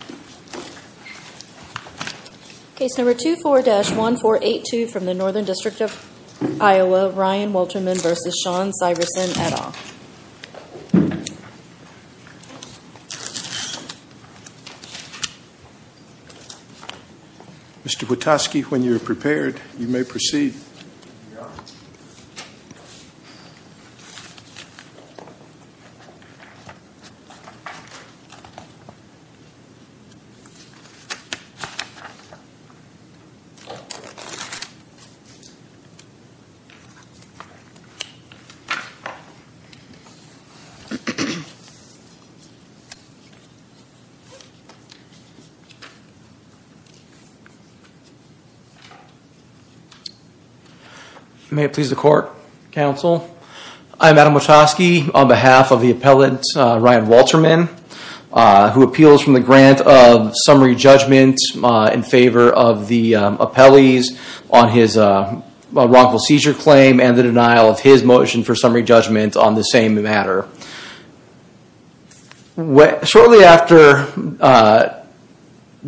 Mr. Patosky, when you are prepared, you may proceed. Mr. Patosky, you may proceed. May it please the court, counsel. I'm Adam Patosky on behalf of the appellant Ryan Wolterman who appeals from the grant of summary judgment in favor of the appellees on his wrongful seizure claim and the denial of his motion for summary judgment on the same matter. Shortly after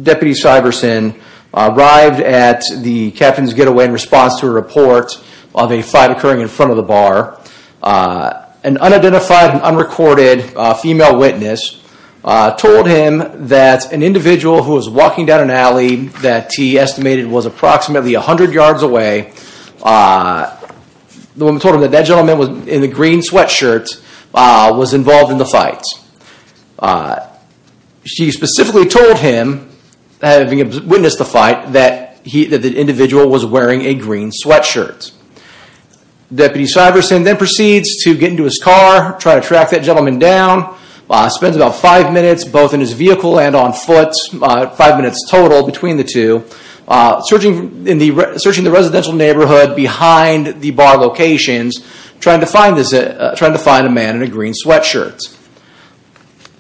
Deputy Syverson arrived at the captain's getaway in response to a report of a fight occurring in front of the bar. An unidentified and unrecorded female witness told him that an individual who was walking down an alley that he estimated was approximately a hundred yards away. The woman told him that gentleman in the green sweatshirt was involved in the fight. She specifically told him, having witnessed the fight, that the individual was wearing a green sweatshirt. Deputy Syverson then proceeds to get into his car, try to track that gentleman down. Spends about five minutes both in his vehicle and on foot, five minutes total between the two. Searching the residential neighborhood behind the bar locations trying to find a man in a green sweatshirt.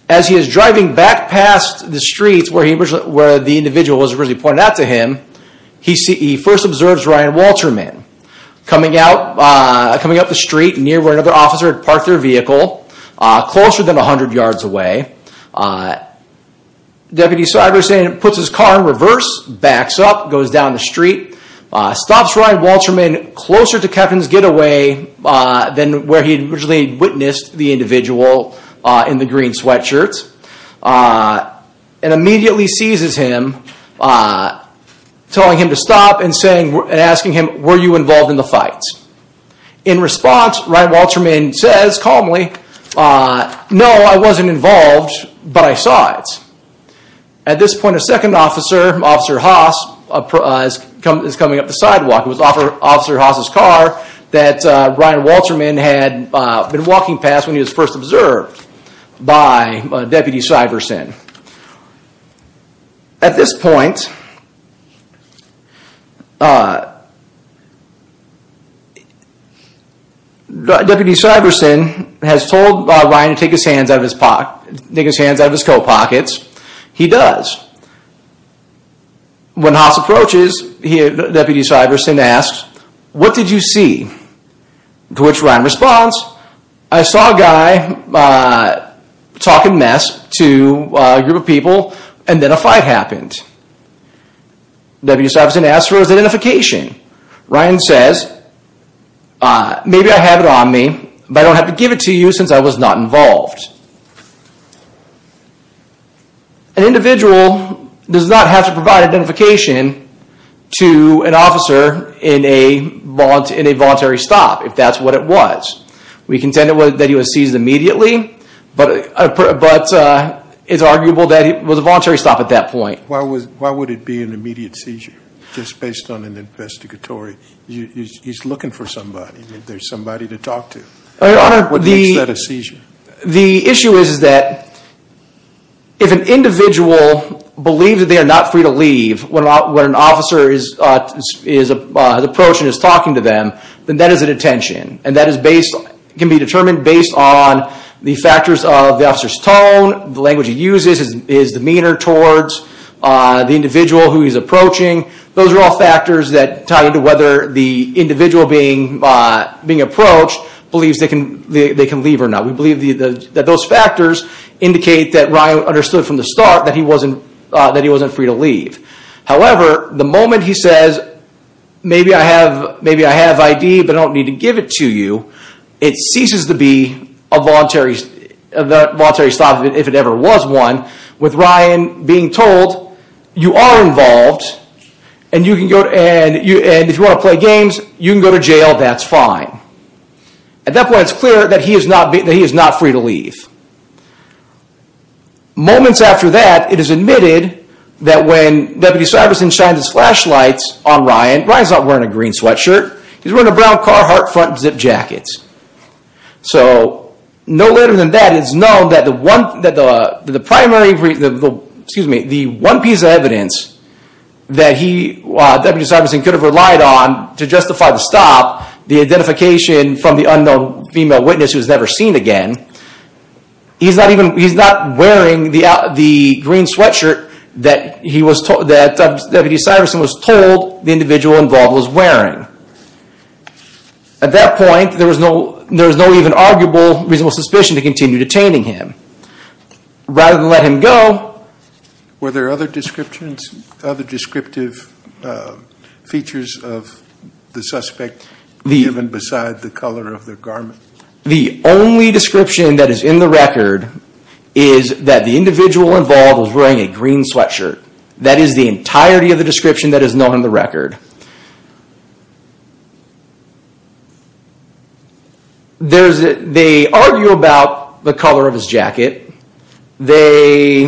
As he is driving back past the streets where the individual was originally pointed out to him, he first observes Ryan Walterman coming up the street near where another officer had parked their vehicle closer than a hundred yards away. Deputy Syverson puts his car in reverse, backs up, goes down the street, stops Ryan Walterman closer to captain's getaway than where he'd originally witnessed the individual in the green sweatshirt. And immediately seizes him, telling him to stop and asking him, were you involved in the fight? In response, Ryan Walterman says calmly, no, I wasn't involved, but I saw it. At this point a second officer, Officer Haas, is coming up the sidewalk. It was Officer Haas's car that Ryan Walterman had been walking past when he was first observed by Deputy Syverson. At this point, Deputy Syverson has told Ryan to take his hands out of his coat pockets. He does. When Haas approaches, Deputy Syverson asks, what did you see? To which Ryan responds, I saw a guy talking mess to a group of people and then a fight happened. Deputy Syverson asks for his identification. Ryan says, maybe I have it on me, but I don't have to give it to you since I was not involved. An individual does not have to provide identification to an officer in a voluntary stop, if that's what it was. We contend that he was seized immediately, but it's arguable that it was a voluntary stop at that point. Why would it be an immediate seizure just based on an investigatory? He's looking for somebody, there's somebody to talk to. What makes that a seizure? The issue is that if an individual believes that they are not free to leave when an officer is approaching and is talking to them, then that is a detention. And that can be determined based on the factors of the officer's tone, the language he uses, his demeanor towards the individual who he's approaching. Those are all factors that tie into whether the individual being approached believes they can leave or not. We believe that those factors indicate that Ryan understood from the start that he wasn't free to leave. However, the moment he says, maybe I have ID, but I don't need to give it to you, it ceases to be a voluntary stop, if it ever was one, with Ryan being told, you are involved and if you want to play games, you can go to jail, that's fine. At that point, it's clear that he is not free to leave. Moments after that, it is admitted that when Deputy Syverson shines his flashlights on Ryan, Ryan's not wearing a green sweatshirt, he's wearing a brown car heart front zip jacket. So no later than that, it's known that the one, that the primary, excuse me, the one piece of evidence that he, Deputy Syverson, could have relied on to justify the stop, the identification from the unknown female witness who's never seen again, he's not even, he's not wearing the green sweatshirt that he was told, that Deputy Syverson was told the individual involved was wearing. At that point, there was no, there was no even arguable, reasonable suspicion to continue detaining him. Rather than let him go. Were there other descriptions, other descriptive features of the suspect given beside the color of the garment? The only description that is in the record is that the individual involved was wearing a green sweatshirt. That is the entirety of the description that is known in the record. There's, they argue about the color of his jacket. They,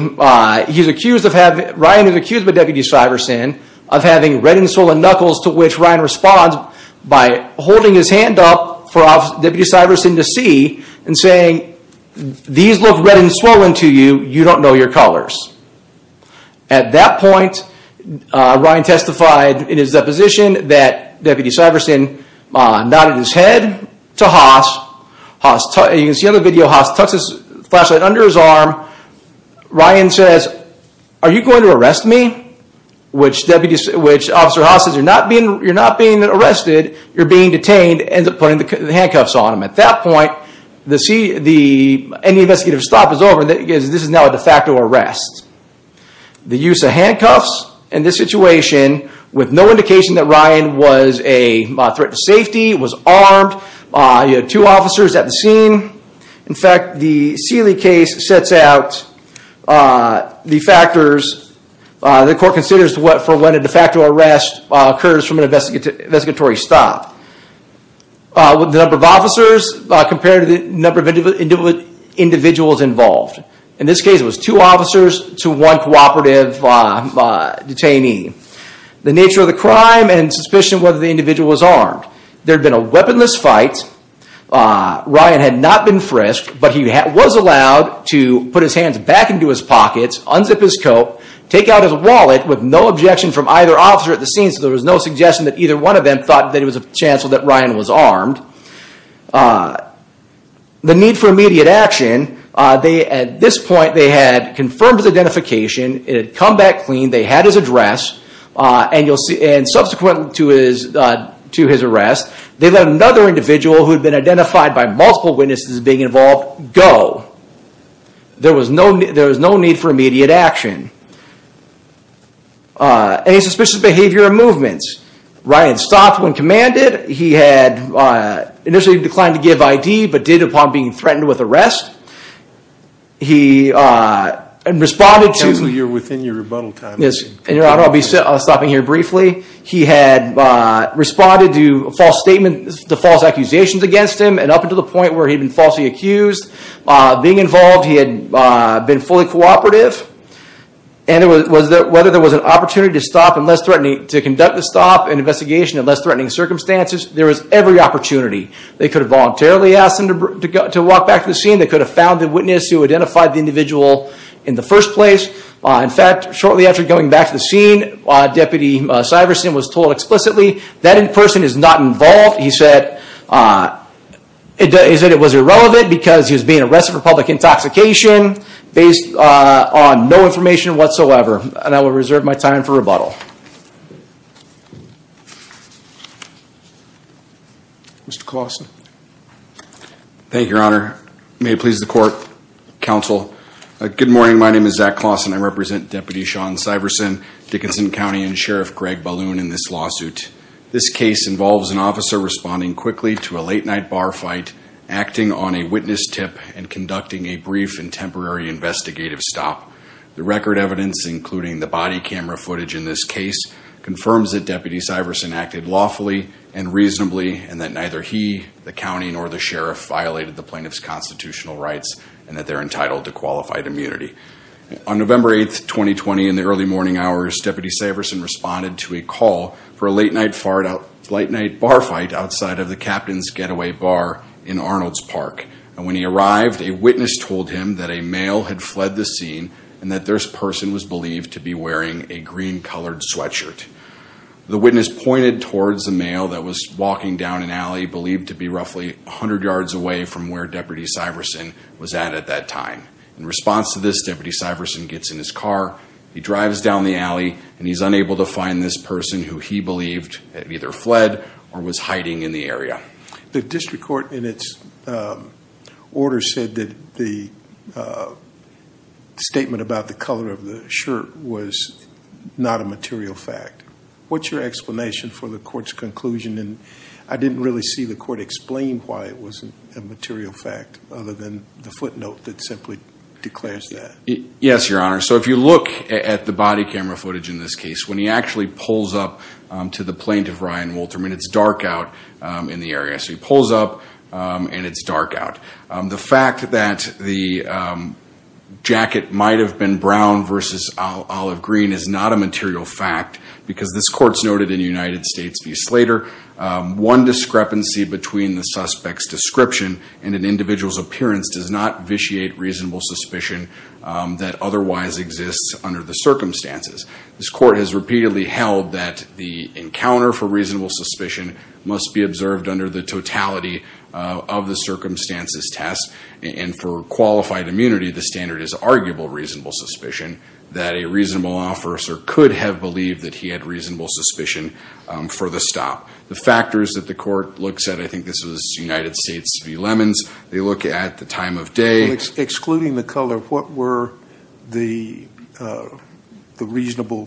he's accused of having, Ryan is accused by Deputy Syverson of having red and swollen knuckles to which Ryan responds by holding his hand up for Deputy Syverson to see and saying, these look red and swollen to you, you don't know your colors. At that point, Ryan testified in his deposition that Deputy Syverson nodded his head to Haas. Haas, you can see on the video, Haas tucks his flashlight under his arm. Ryan says, are you going to arrest me? Which Deputy, which Officer Haas says, you're not being, you're not being arrested. You're being detained. Ends up putting the handcuffs on him. At that point, the C, the, any investigative stop is over. This is now a de facto arrest. The use of handcuffs in this situation, with no indication that Ryan was a threat to safety, was armed. You had two officers at the scene. In fact, the Seeley case sets out the factors the court considers for when a de facto arrest occurs from an investigatory stop. With the number of officers compared to the number of individuals involved. In this case, it was two officers to one cooperative detainee. The nature of the crime and suspicion whether the individual was armed. There'd been a weaponless fight. Ryan had not been frisked, but he was allowed to put his hands back into his pockets, unzip his coat, take out his wallet with no objection from either officer at the scene. So there was no suggestion that either one of them thought that it was a chance that Ryan was armed. The need for immediate action. They, at this point, they had confirmed his identification. It had come back clean. They had his address and you'll see, and subsequent to his, to his arrest, they let another individual who had been identified by multiple witnesses being involved, go. There was no, there was no need for immediate action. Any suspicious behavior or movements. Ryan stopped when commanded. He had initially declined to give ID, but did upon being threatened with arrest. He responded to... So you're within your rebuttal time. Yes, and I'll be stopping here briefly. He had responded to false statements, the false accusations against him and up until the point where he'd been falsely accused. Being involved, he had been fully cooperative. And it was whether there was an opportunity to stop and less threatening, to conduct the stop and investigation in less threatening circumstances. There was every opportunity. They could have voluntarily asked him to go, to walk back to the scene. They could have found the witness who identified the individual in the first place. In fact, shortly after going back to the scene, Deputy Syverson was told explicitly that in person is not involved. He said, he said it was irrelevant because he was being arrested for public intoxication based on no information whatsoever. And I will reserve my time for rebuttal. Mr. Clawson. Thank you, Your Honor. May it please the court, counsel. Good morning. My name is Zach Clawson. I represent Deputy Sean Syverson, Dickinson County and Sheriff Greg Balloon in this lawsuit. This case involves an officer responding quickly to a late night bar fight, acting on a witness tip and conducting a brief and temporary investigative stop. The record evidence, including the body camera footage in this case, confirms that Deputy Syverson acted lawfully and reasonably and that neither he, the county, nor the sheriff violated the plaintiff's constitutional rights and that they're entitled to qualified immunity. On November 8th, 2020, in the early morning hours, Deputy Syverson responded to a call for a late night bar fight outside of the captain's getaway bar in Arnold's Park. And when he arrived, a witness told him that a male had fled the scene and that this person was believed to be wearing a green colored sweatshirt. The witness pointed towards the male that was walking down an alley believed to be roughly a hundred yards away from where Deputy Syverson was at at that time. In response to this, Deputy Syverson gets in his car, he drives down the alley and he's unable to find this person who he believed either fled or was hiding in the area. The district court in its order said that the statement about the color of the shirt was not a material fact. What's your explanation for the court's conclusion? And I didn't really see the court explain why it wasn't a material fact other than the footnote that simply declares that. Yes, your honor. So if you look at the body camera footage in this case, when he actually pulls up to the plaintiff, Ryan Wolterman, it's dark out in the area. So he pulls up and it's dark out. The fact that the jacket might have been brown versus olive green is not a material fact because this court's noted in the United States v. Slater. One discrepancy between the suspect's description and an individual's appearance does not vitiate reasonable suspicion that otherwise exists under the circumstances. This court has repeatedly held that the encounter for reasonable suspicion must be observed under the totality of the circumstances test. And for qualified immunity, the standard is arguable reasonable suspicion that a reasonable officer could have believed that he had reasonable suspicion for the stop. The factors that the court looks at, I think this was United States v. Lemons, they look at the time of day. Excluding the color, what were the reasonable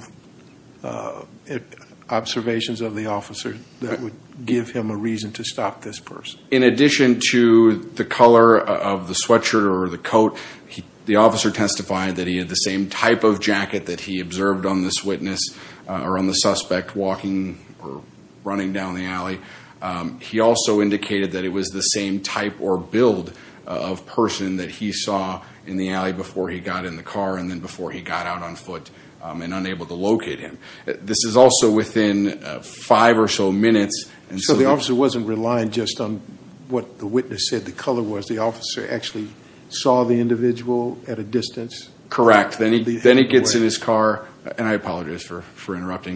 observations of the officer that would give him a reason to stop this person? In addition to the color of the sweatshirt or the coat, the officer testified that he had the same type of jacket that he observed on this witness or on the suspect walking or running down the alley. He also indicated that it was the same type or build of person that he saw in the alley before he got in the car and then before he got out on foot and unable to locate him. This is also within five or so minutes. And so the officer wasn't relying just on what the witness said the color was. The officer actually saw the individual at a distance? Then he gets in his car, and I apologize for interrupting.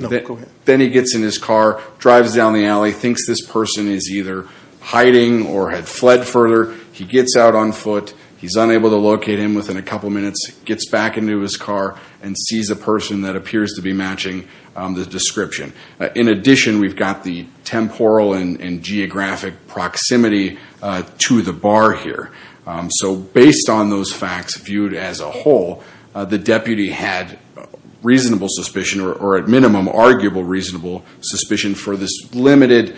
Then he gets in his car, drives down the alley, thinks this person is either hiding or had fled further. He gets out on foot. He's unable to locate him within a couple of minutes, gets back into his car and sees a person that appears to be matching the description. In addition, we've got the temporal and geographic proximity to the bar here. So based on those facts viewed as a whole, the deputy had reasonable suspicion or at minimum, arguable, reasonable suspicion for this limited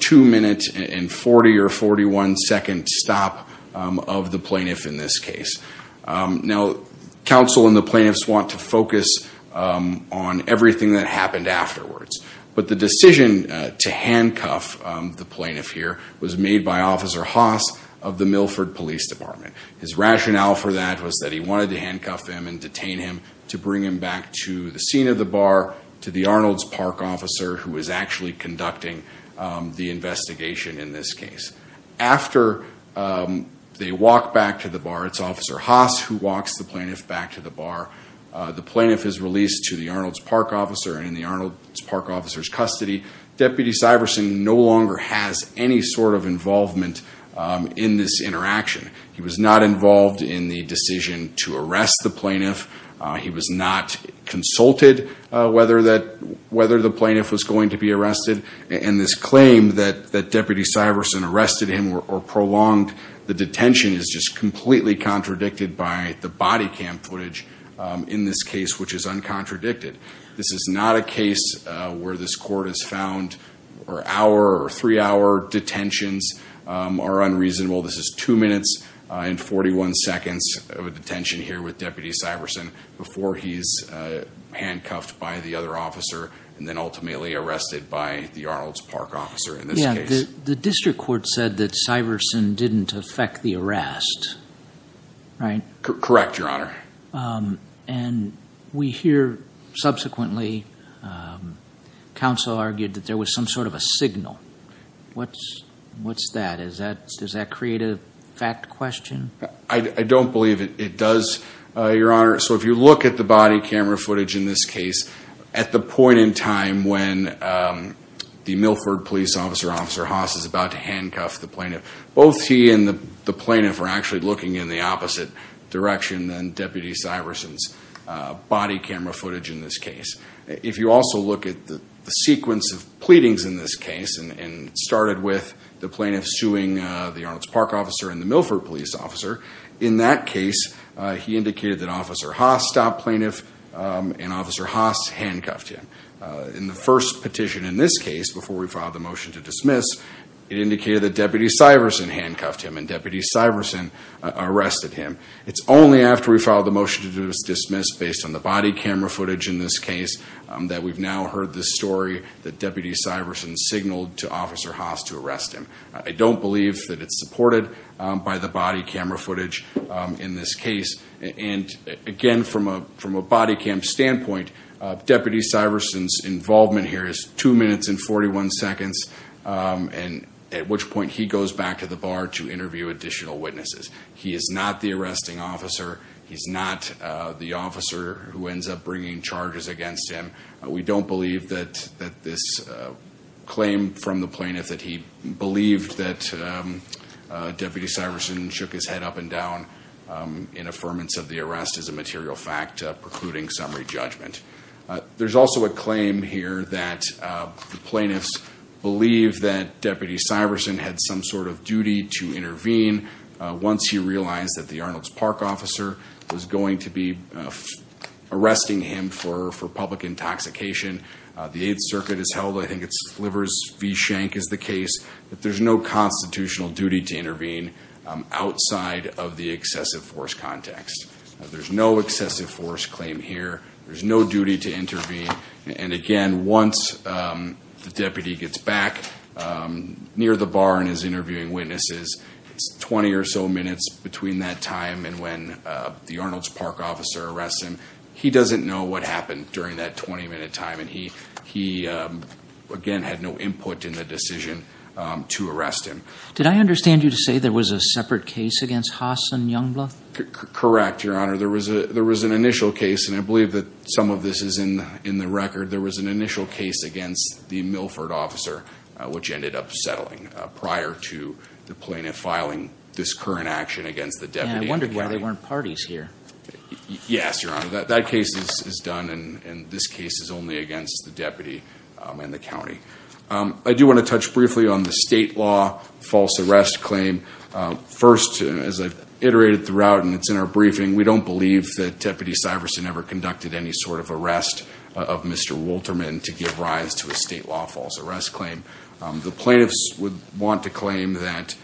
two minutes and 40 or 41 second stop of the plaintiff in this case. Now, counsel and the plaintiffs want to focus on everything that happened afterwards. But the decision to handcuff the plaintiff here was made by Officer Haas of the Milford Police Department. His rationale for that was that he wanted to handcuff him and detain him to bring him back to the scene of the bar to the Arnold's Park officer who is actually conducting the investigation in this case. After they walk back to the bar, it's Officer Haas who walks the plaintiff back to the bar. The plaintiff is released to the Arnold's Park officer and in the Arnold's Park officer's custody. Deputy Syverson no longer has any sort of involvement in this interaction. He was not involved in the decision to arrest the plaintiff. He was not consulted whether the plaintiff was going to be arrested. And this claim that Deputy Syverson arrested him or prolonged the detention is just completely contradicted by the body cam footage. In this case, which is uncontradicted. This is not a case where this court has found or hour or three hour detentions are unreasonable. This is two minutes and 41 seconds of detention here with Deputy Syverson before he's handcuffed by the other officer and then ultimately arrested by the Arnold's Park officer in this case. The district court said that Syverson didn't affect the arrest, right? Correct, Your Honor. And we hear subsequently, counsel argued that there was some sort of a signal. What's that? Does that create a fact question? I don't believe it does, Your Honor. So if you look at the body camera footage in this case, at the point in time when the Milford police officer, Officer Haas is about to handcuff the plaintiff. Both he and the plaintiff are actually looking in the opposite direction than Deputy Syverson's body camera footage in this case. If you also look at the sequence of pleadings in this case and started with the plaintiff suing the Arnold's Park officer and the Milford police officer. In that case, he indicated that Officer Haas stopped plaintiff and Officer Haas handcuffed him. In the first petition in this case, before we filed the motion to dismiss, it indicated that Deputy Syverson handcuffed him and Deputy Syverson arrested him. It's only after we filed the motion to dismiss based on the body camera footage in this case that we've now heard this story that Deputy Syverson signaled to Officer Haas to arrest him. I don't believe that it's supported by the body camera footage in this case. And again, from a body cam standpoint, Deputy Syverson's involvement here is two minutes and 41 seconds. And at which point he goes back to the bar to interview additional witnesses. He is not the arresting officer. He's not the officer who ends up bringing charges against him. We don't believe that this claim from the plaintiff that he believed that Deputy Syverson shook his head up and down in affirmance of the arrest is a material fact, precluding summary judgment. There's also a claim here that the plaintiffs believe that Deputy Syverson had some sort of duty to intervene. Once he realized that the Arnolds Park officer was going to be arresting him for public intoxication, the Eighth Circuit has held, I think it's Slivers v. Shank is the case, that there's no constitutional duty to intervene outside of the excessive force context. There's no excessive force claim here. There's no duty to intervene. And again, once the deputy gets back near the bar and is interviewing witnesses, it's 20 or so minutes between that time and when the Arnolds Park officer arrests him. He doesn't know what happened during that 20 minute time. And he, again, had no input in the decision to arrest him. Did I understand you to say there was a separate case against Haas and Youngblood? Correct, Your Honor. There was an initial case, and I believe that some of this is in the record. There was an initial case against the Milford officer, which ended up settling prior to the plaintiff filing this current action against the deputy. And I wondered why there weren't parties here. Yes, Your Honor. That case is done, and this case is only against the deputy and the county. I do want to touch briefly on the state law false arrest claim. First, as I've iterated throughout and it's in our briefing, we don't believe that Deputy Syverson ever conducted any sort of arrest of Mr. Wolterman to give rise to a state law false arrest claim. The plaintiffs would want to claim that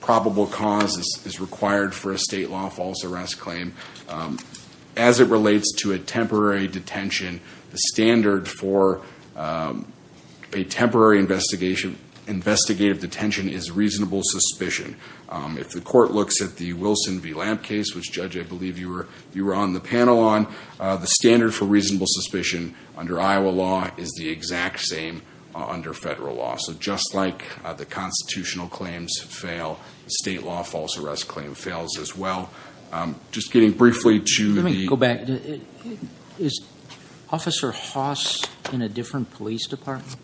probable cause is required for a state law false arrest claim. As it relates to a temporary detention, the standard for a temporary investigative detention is reasonable suspicion. If the court looks at the Wilson v. Lamp case, which, Judge, I believe you were on the panel on, the standard for reasonable suspicion under Iowa law is the exact same under federal law. So just like the constitutional claims fail, the state law false arrest claim fails as well. Just getting briefly to the... Let me go back. Is Officer Haas in a different police department?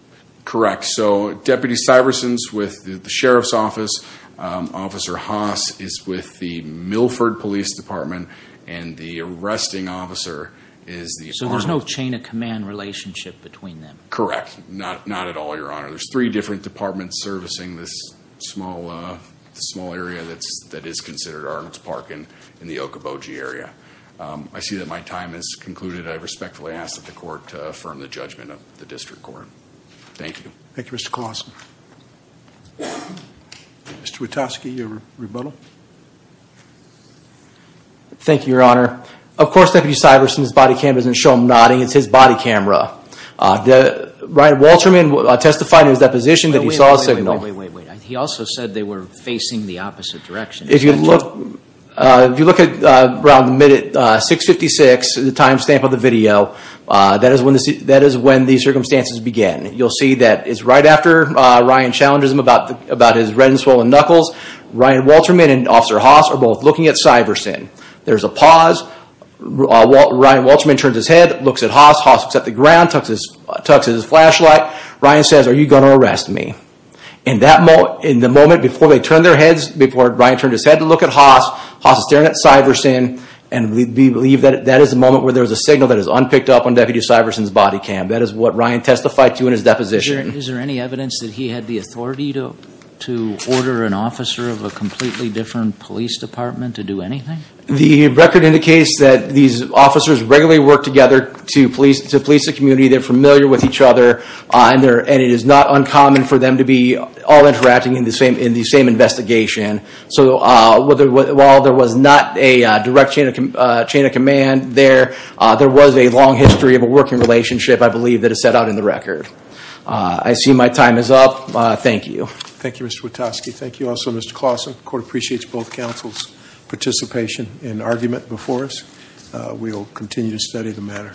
Correct. So Deputy Syverson's with the Sheriff's Office. Officer Haas is with the Milford Police Department. And the arresting officer is the... So there's no chain of command relationship between them? Correct. Not at all, Your Honor. There's three different departments servicing this small area that is considered Arnold's Park in the Okoboji area. I see that my time has concluded. I respectfully ask that the court affirm the judgment of the district court. Thank you. Thank you, Mr. Clausen. Mr. Witowski, your rebuttal. Thank you, Your Honor. Of course, Deputy Syverson's body cam doesn't show him nodding. It's his body camera. Ryan Walterman testified in his deposition that he saw a signal. Wait, wait, wait. He also said they were facing the opposite direction. If you look around the minute 656, the time stamp of the video, that is when the circumstances began. You'll see that it's right after Ryan challenges him about his red and swollen knuckles, Ryan Walterman and Officer Haas are both looking at Syverson. There's a pause. Ryan Walterman turns his head, looks at Haas. Haas looks at the ground, tucks his flashlight. Ryan says, are you going to arrest me? In the moment before they turned their heads, before Ryan turned his head to look at Haas, Haas is staring at Syverson, and we believe that is the moment where there is a signal that is unpicked up on Deputy Syverson's body cam. That is what Ryan testified to in his deposition. Is there any evidence that he had the authority to order an officer of a completely different police department to do anything? The record indicates that these officers regularly work together to police the community. They're familiar with each other, and it is not uncommon for them to be all interacting in the same investigation. So while there was not a direct chain of command there, there was a long history of a working relationship, I believe, that is set out in the record. I see my time is up. Thank you. Thank you, Mr. Witoski. Thank you also, Mr. Clausen. The court appreciates both counsel's participation and argument before us. We will continue to study the matter.